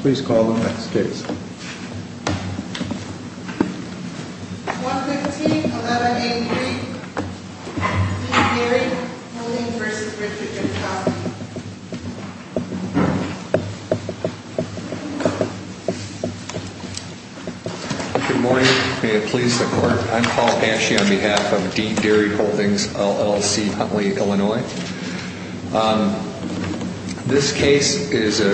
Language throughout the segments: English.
Please call the next case. 115-1183, Dean Dairy Holdings v. Richard McCauley. Good morning, may it please the court. I'm Paul Aschey on behalf of Dean Dairy Holdings, LLC, Huntley, Illinois. This case is a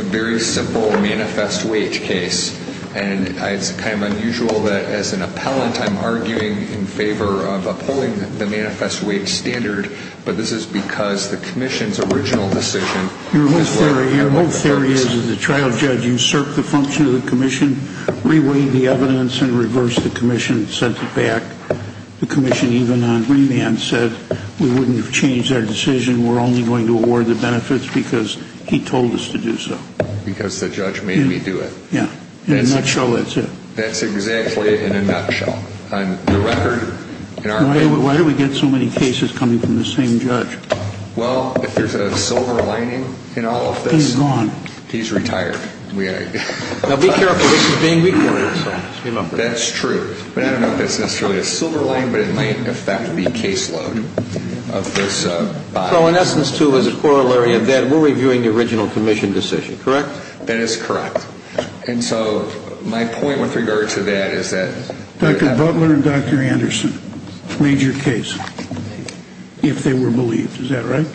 very simple manifest wage case. And it's kind of unusual that as an appellant I'm arguing in favor of upholding the manifest wage standard, but this is because the commission's original decision was for a manifest wage case. Your whole theory is that the trial judge usurped the function of the commission, reweighed the evidence, and reversed the commission and sent it back. The commission even on remand said we wouldn't have changed our decision, we're only going to award the benefits because he told us to do so. Because the judge made me do it. Yeah, in a nutshell that's it. That's exactly it in a nutshell. Why do we get so many cases coming from the same judge? Well, if there's a silver lining in all of this... He's gone. He's retired. Now be careful, this is being recorded. That's true. But I don't know if that's necessarily a silver lining, but it might affect the caseload of this body. So in essence, too, as a corollary of that, we're reviewing the original commission decision, correct? That is correct. And so my point with regard to that is that... Dr. Butler and Dr. Anderson made your case, if they were believed, is that right?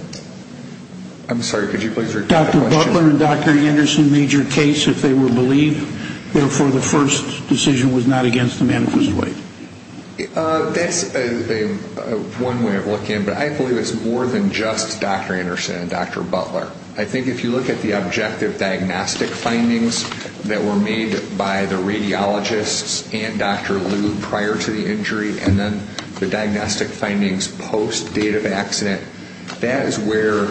I'm sorry, could you please repeat the question? Dr. Butler and Dr. Anderson made your case, if they were believed, therefore the first decision was not against the manifest way. That's one way of looking at it, but I believe it's more than just Dr. Anderson and Dr. Butler. I think if you look at the objective diagnostic findings that were made by the radiologists and Dr. Liu prior to the injury, and then the diagnostic findings post-date of accident, that is where,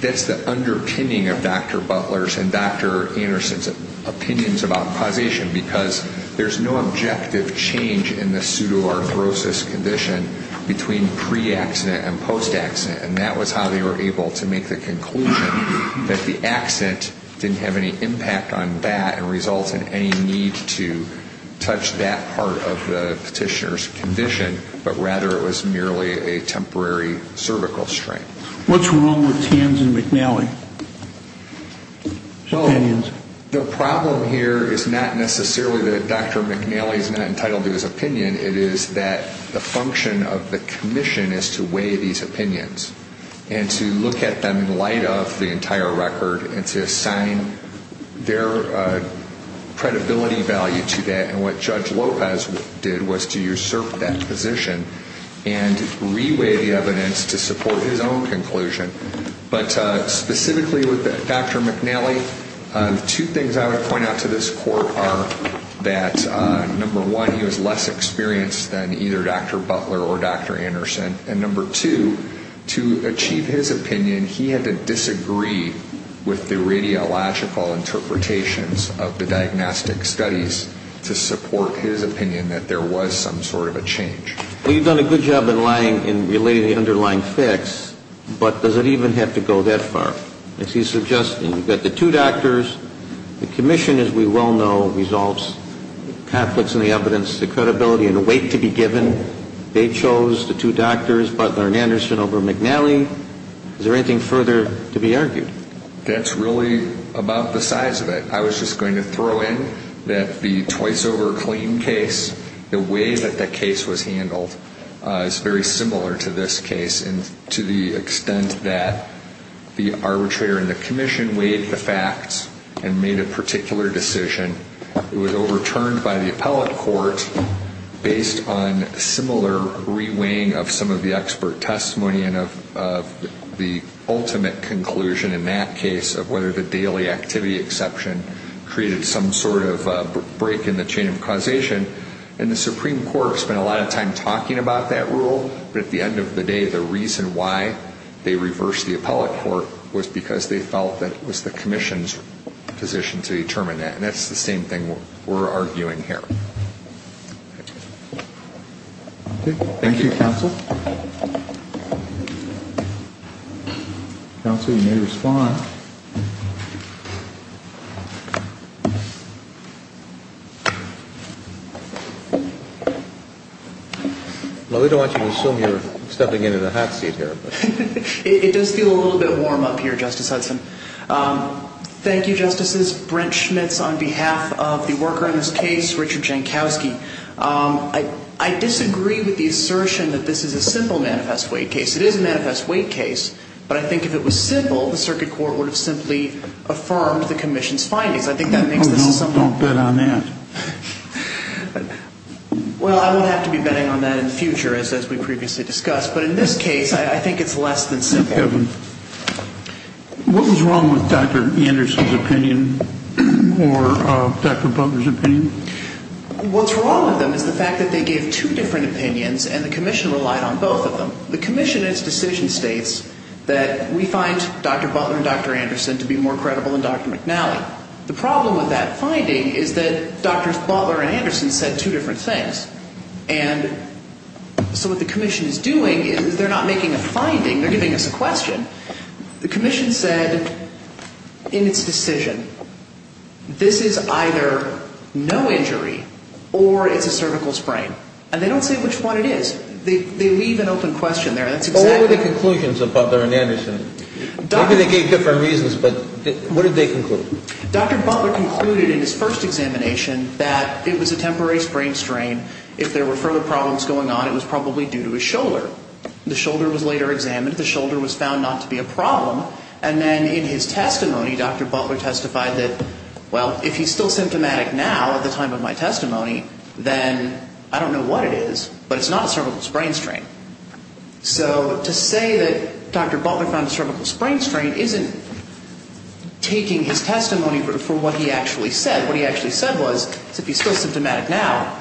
that's the underpinning of Dr. Butler's and Dr. Anderson's opinions about causation, because there's no objective change in the pseudoarthrosis condition between pre-accident and post-accident, and that was how they were able to make the conclusion that the accident didn't have any impact on that and result in any need to touch that part of the petitioner's condition, but rather it was merely a temporary cervical strain. What's wrong with Tanzen McNally's opinions? The problem here is not necessarily that Dr. McNally is not entitled to his opinion. It is that the function of the commission is to weigh these opinions and to look at them in light of the entire record and to assign their credibility value to that, and what Judge Lopez did was to usurp that position and re-weigh the evidence to support his own conclusion. But specifically with Dr. McNally, two things I would point out to this court are that, number one, he was less experienced than either Dr. Butler or Dr. Anderson, and number two, to achieve his opinion, he had to disagree with the radiological interpretations of the diagnostic studies to support his opinion that there was some sort of a change. Well, you've done a good job in relating the underlying facts, but does it even have to go that far? As he's suggesting, you've got the two doctors, the commission, as we well know, conflicts in the evidence, the credibility, and the weight to be given. They chose the two doctors, Butler and Anderson, over McNally. Is there anything further to be argued? That's really about the size of it. I was just going to throw in that the twice-over-clean case, the way that that case was handled, is very similar to this case to the extent that the arbitrator and the commission weighed the facts and made a particular decision. It was overturned by the appellate court based on similar reweighing of some of the expert testimony and of the ultimate conclusion in that case of whether the daily activity exception created some sort of break in the chain of causation. And the Supreme Court spent a lot of time talking about that rule, but at the end of the day, the reason why they reversed the appellate court was because they felt that it was the commission's position to determine that. And that's the same thing we're arguing here. Thank you, counsel. Counsel, you may respond. Well, we don't want you to assume you're stepping into the hot seat here. It does feel a little bit warm up here, Justice Hudson. Thank you, Justices. Brent Schmitz on behalf of the worker in this case, Richard Jankowski. I disagree with the assertion that this is a simple manifest weight case. It is a manifest weight case, but I think if it was simple, the circuit court would have been able to do it. It would have simply affirmed the commission's findings. Don't bet on that. Well, I won't have to be betting on that in the future, as we previously discussed. But in this case, I think it's less than simple. What was wrong with Dr. Anderson's opinion or Dr. Butler's opinion? What's wrong with them is the fact that they gave two different opinions and the commission relied on both of them. So the commission in its decision states that we find Dr. Butler and Dr. Anderson to be more credible than Dr. McNally. The problem with that finding is that Dr. Butler and Anderson said two different things. And so what the commission is doing is they're not making a finding. They're giving us a question. The commission said in its decision this is either no injury or it's a cervical sprain. And they don't say which one it is. They leave an open question there. What were the conclusions of Butler and Anderson? Maybe they gave different reasons, but what did they conclude? Dr. Butler concluded in his first examination that it was a temporary sprain strain. If there were further problems going on, it was probably due to his shoulder. The shoulder was later examined. The shoulder was found not to be a problem. And then in his testimony, Dr. Butler testified that, well, if he's still symptomatic now at the time of my testimony, then I don't know what it is. But it's not a cervical sprain strain. So to say that Dr. Butler found a cervical sprain strain isn't taking his testimony for what he actually said. What he actually said was if he's still symptomatic now,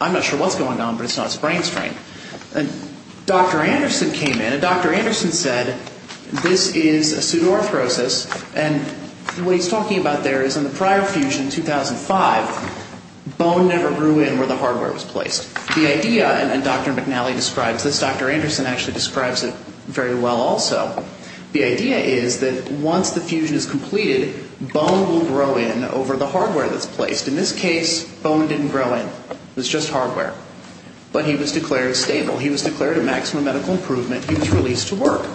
I'm not sure what's going on, but it's not a sprain strain. And Dr. Anderson came in, and Dr. Anderson said this is a pseudoarthrosis. And what he's talking about there is in the prior fusion, 2005, bone never grew in where the hardware was placed. The idea, and Dr. McNally describes this, Dr. Anderson actually describes it very well also, the idea is that once the fusion is completed, bone will grow in over the hardware that's placed. In this case, bone didn't grow in. It was just hardware. But he was declared stable. He was declared a maximum medical improvement. He was released to work.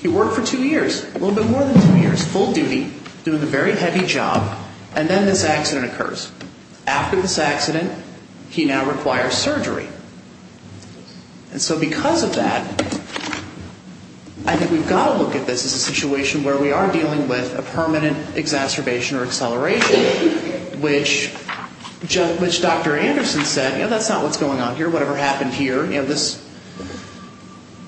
He worked for two years, a little bit more than two years, full duty, doing a very heavy job. And then this accident occurs. After this accident, he now requires surgery. And so because of that, I think we've got to look at this as a situation where we are dealing with a permanent exacerbation or acceleration, which Dr. Anderson said, you know, that's not what's going on here. Whatever happened here, you know, this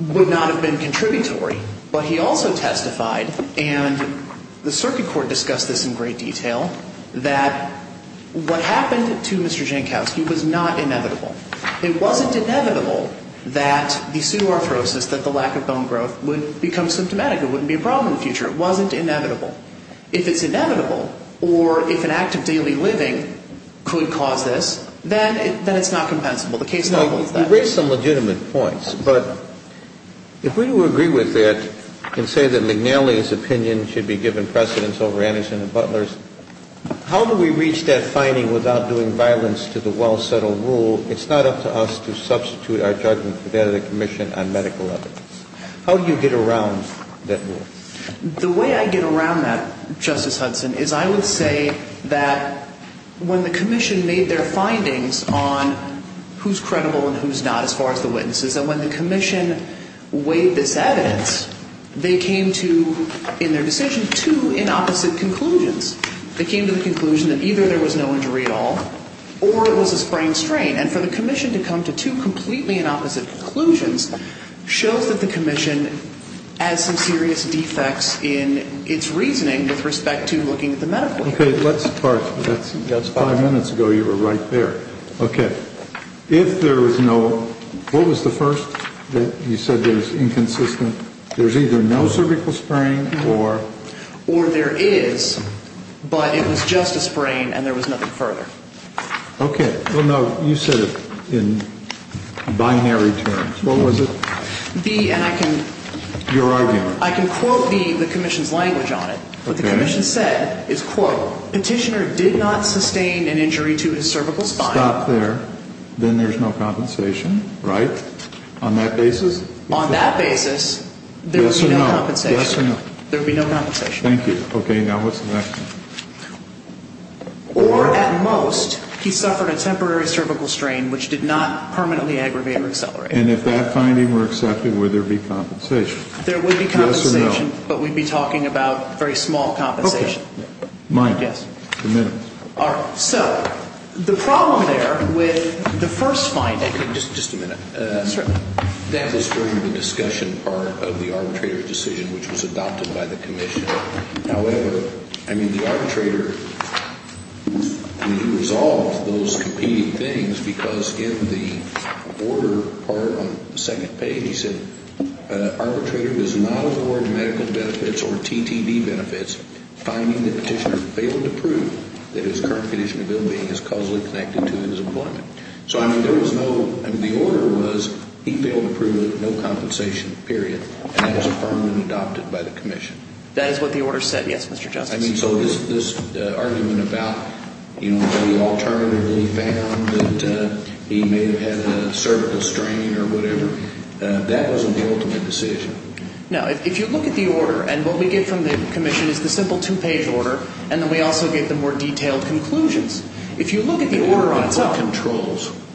would not have been contributory. But he also testified, and the circuit court discussed this in great detail, that what happened to Mr. Jankowski was not inevitable. It wasn't inevitable that the pseudoarthrosis, that the lack of bone growth, would become symptomatic. It wouldn't be a problem in the future. It wasn't inevitable. If it's inevitable, or if an act of daily living could cause this, then it's not compensable. The case doubles that. I've raised some legitimate points, but if we were to agree with that and say that McNally's opinion should be given precedence over Anderson and Butler's, how do we reach that finding without doing violence to the well-settled rule? It's not up to us to substitute our judgment for that of the Commission on medical evidence. How do you get around that rule? The way I get around that, Justice Hudson, is I would say that when the Commission made their findings on who's credible and who's not as far as the witnesses, and when the Commission weighed this evidence, they came to, in their decision, two inopposite conclusions. They came to the conclusion that either there was no injury at all, or it was a sprained strain. And for the Commission to come to two completely inopposite conclusions shows that the Commission has some serious defects in its reasoning with respect to looking at the medical evidence. Okay. Let's part. That's five minutes ago. You were right there. Okay. If there was no – what was the first that you said was inconsistent? There's either no cervical sprain or – Or there is, but it was just a sprain and there was nothing further. Okay. Well, no, you said it in binary terms. What was it? The – and I can – Your argument. I can quote the Commission's language on it. Okay. What the Commission said is, quote, Petitioner did not sustain an injury to his cervical spine. Stop there. Then there's no compensation, right, on that basis? On that basis, there would be no compensation. Yes or no? Yes or no? There would be no compensation. Thank you. Okay. Now what's the next one? Or, at most, he suffered a temporary cervical strain which did not permanently aggravate or accelerate. And if that finding were accepted, would there be compensation? There would be compensation. Yes or no? But we'd be talking about very small compensation. Okay. Minus. Yes. Minus. All right. So the problem there with the first finding – Okay. Just a minute. Certainly. That was further the discussion part of the arbitrator's decision, which was adopted by the Commission. However, I mean, the arbitrator – I mean, he resolved those competing things because in the order part on the second page, he said, Arbitrator does not award medical benefits or TTD benefits, finding that Petitioner failed to prove that his current condition of ill-being is causally connected to his employment. So, I mean, there was no – I mean, the order was he failed to prove no compensation, period. And that was affirmed and adopted by the Commission. That is what the order said? Yes, Mr. Justice. I mean, so this argument about, you know, he alternatively found that he may have had a cervical strain or whatever, that wasn't the ultimate decision. No. If you look at the order, and what we get from the Commission is the simple two-page order, and then we also get the more detailed conclusions. If you look at the order on its own –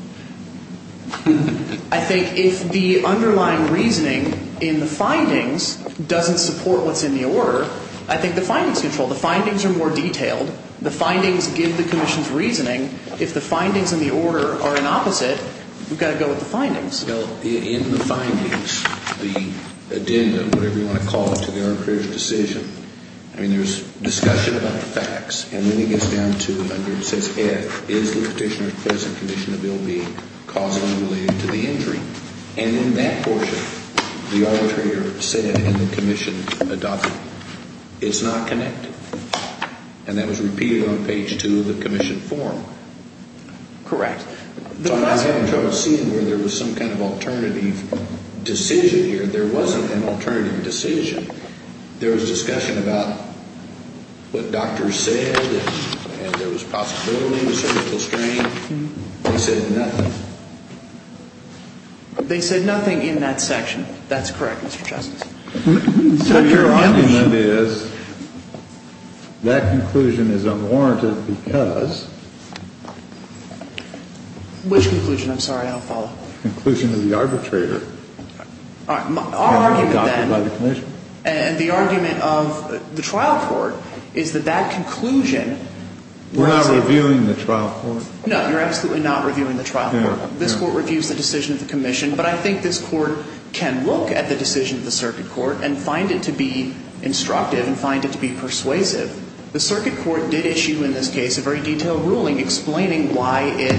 I think if the underlying reasoning in the findings doesn't support what's in the order, I think the findings control. The findings are more detailed. The findings give the Commission's reasoning. If the findings in the order are an opposite, we've got to go with the findings. Well, in the findings, the addendum, whatever you want to call it, to the arbitrator's decision, I mean, there's discussion about the facts. And then it gets down to, under, it says, F, is the Petitioner's present condition of ill-being causally related to the injury? And in that portion, the arbitrator said, and the Commission adopted, it's not connected. And that was repeated on page two of the Commission form. Correct. I was having trouble seeing where there was some kind of alternative decision here. There wasn't an alternative decision. There was discussion about what doctors said, and there was possibility of surgical strain. They said nothing. They said nothing in that section. That's correct, Mr. Justice. So your argument is that conclusion is unwarranted because – Which conclusion? I'm sorry. I'll follow. Conclusion of the arbitrator. All right. Our argument then – Adopted by the Commission. And the argument of the trial court is that that conclusion – We're not reviewing the trial court. No, you're absolutely not reviewing the trial court. This Court reviews the decision of the Commission, but I think this Court can look at the decision of the circuit court and find it to be instructive and find it to be persuasive. The circuit court did issue in this case a very detailed ruling explaining why it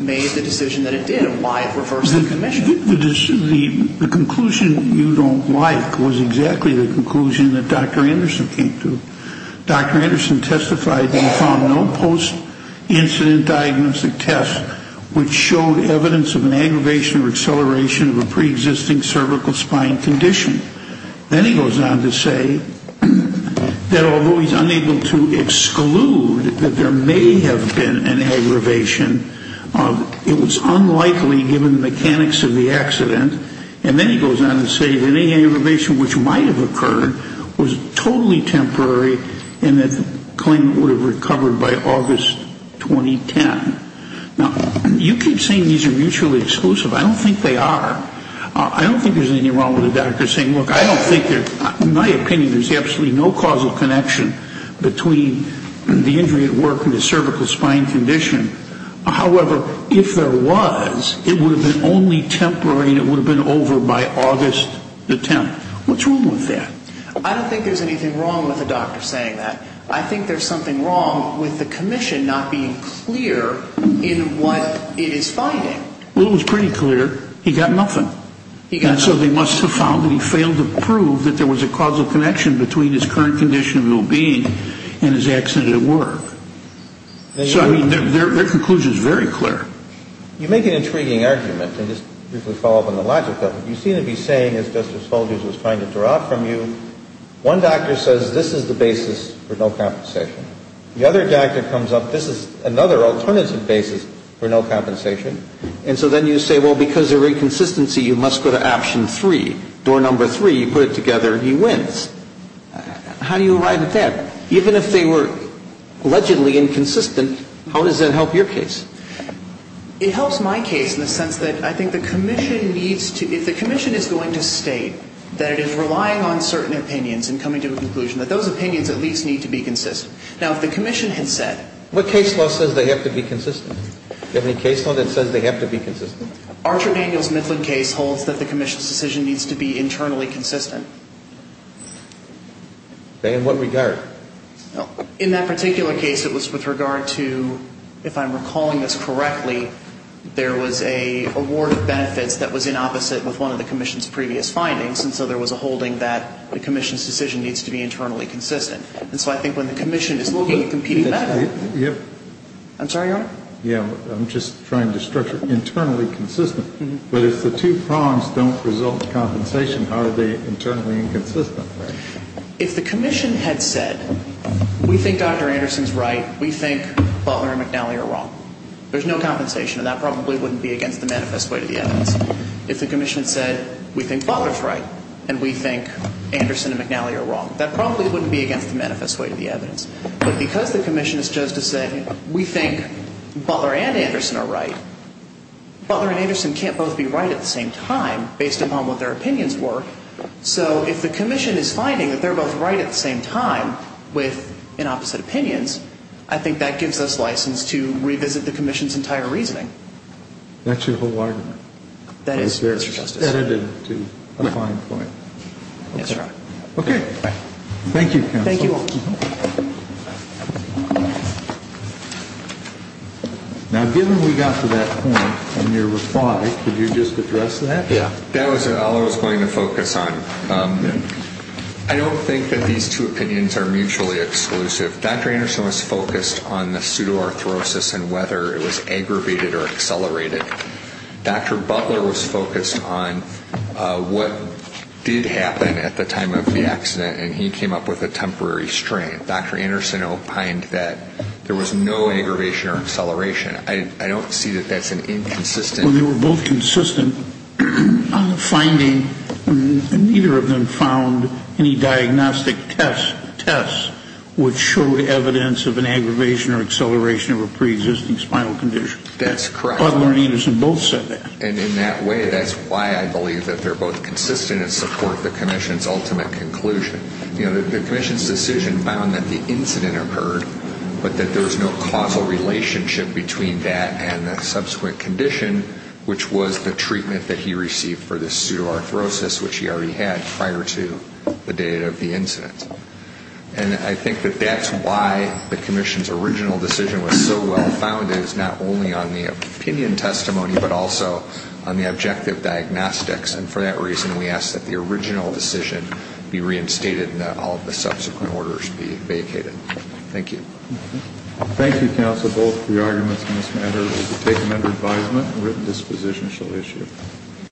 made the decision that it did and why it reversed the Commission. The conclusion you don't like was exactly the conclusion that Dr. Anderson came to. Dr. Anderson testified that he found no post-incident diagnostic tests which showed evidence of an aggravation or acceleration of a preexisting cervical spine condition. Then he goes on to say that although he's unable to exclude that there may have been an aggravation, it was unlikely given the mechanics of the accident. And then he goes on to say that any aggravation which might have occurred was totally temporary and that the claimant would have recovered by August 2010. Now, you keep saying these are mutually exclusive. I don't think they are. I don't think there's anything wrong with the doctor saying, look, I don't think there's – in my opinion, there's absolutely no causal connection between the injury at work and the cervical spine condition. However, if there was, it would have been only temporary and it would have been over by August the 10th. What's wrong with that? I don't think there's anything wrong with the doctor saying that. I think there's something wrong with the Commission not being clear in what it is finding. Well, it was pretty clear he got nothing. He got nothing. And so they must have found that he failed to prove that there was a causal connection between his current condition of well-being and his accident at work. So, I mean, their conclusion is very clear. You make an intriguing argument, and just briefly follow up on the logic of it. You seem to be saying, as Justice Folgers was trying to draw out from you, one doctor says this is the basis for no compensation. The other doctor comes up, this is another alternative basis for no compensation. And so then you say, well, because they're inconsistency, you must go to option three. Door number three, you put it together, he wins. How do you arrive at that? Even if they were allegedly inconsistent, how does that help your case? It helps my case in the sense that I think the Commission needs to, if the Commission is going to state that it is relying on certain opinions and coming to a conclusion, that those opinions at least need to be consistent. Now, if the Commission had said. What case law says they have to be consistent? Do you have any case law that says they have to be consistent? Archer Daniels Mifflin case holds that the Commission's decision needs to be internally consistent. In what regard? In that particular case, it was with regard to, if I'm recalling this correctly, there was a award of benefits that was in opposite with one of the Commission's previous findings. And so there was a holding that the Commission's decision needs to be internally consistent. And so I think when the Commission is looking at competing methods. I'm sorry, Your Honor? Yeah, I'm just trying to structure internally consistent. But if the two prongs don't result in compensation, how are they internally inconsistent? If the Commission had said, we think Dr. Anderson's right, we think Butler and McNally are wrong, there's no compensation, and that probably wouldn't be against the manifest way to the evidence. If the Commission said, we think Butler's right, and we think Anderson and McNally are wrong, that probably wouldn't be against the manifest way to the evidence. But because the Commission is just to say, we think Butler and Anderson are right, Butler and Anderson can't both be right at the same time, based upon what their opinions were. So if the Commission is finding that they're both right at the same time with inopposite opinions, I think that gives us license to revisit the Commission's entire reasoning. That's your whole argument? That is, Mr. Justice. That is a fine point. Yes, Your Honor. Okay. Thank you, counsel. Thank you all. Thank you. Now, given we got to that point in your reply, could you just address that? Yeah. That was all I was going to focus on. I don't think that these two opinions are mutually exclusive. Dr. Anderson was focused on the pseudoarthrosis and whether it was aggravated or accelerated. Dr. Butler was focused on what did happen at the time of the accident, and he came up with a temporary strain. Dr. Anderson opined that there was no aggravation or acceleration. I don't see that that's an inconsistent. Well, they were both consistent on the finding, and neither of them found any diagnostic tests would show evidence of an aggravation or acceleration of a preexisting spinal condition. That's correct. Butler and Anderson both said that. And in that way, that's why I believe that they're both consistent and support the commission's ultimate conclusion. The commission's decision found that the incident occurred, but that there was no causal relationship between that and the subsequent condition, which was the treatment that he received for the pseudoarthrosis, which he already had prior to the date of the incident. And I think that that's why the commission's original decision was so well-founded, and that is not only on the opinion testimony but also on the objective diagnostics. And for that reason, we ask that the original decision be reinstated and that all of the subsequent orders be vacated. Thank you. Thank you, counsel, both for your arguments on this matter. We'll take them under advisement and written disposition shall issue.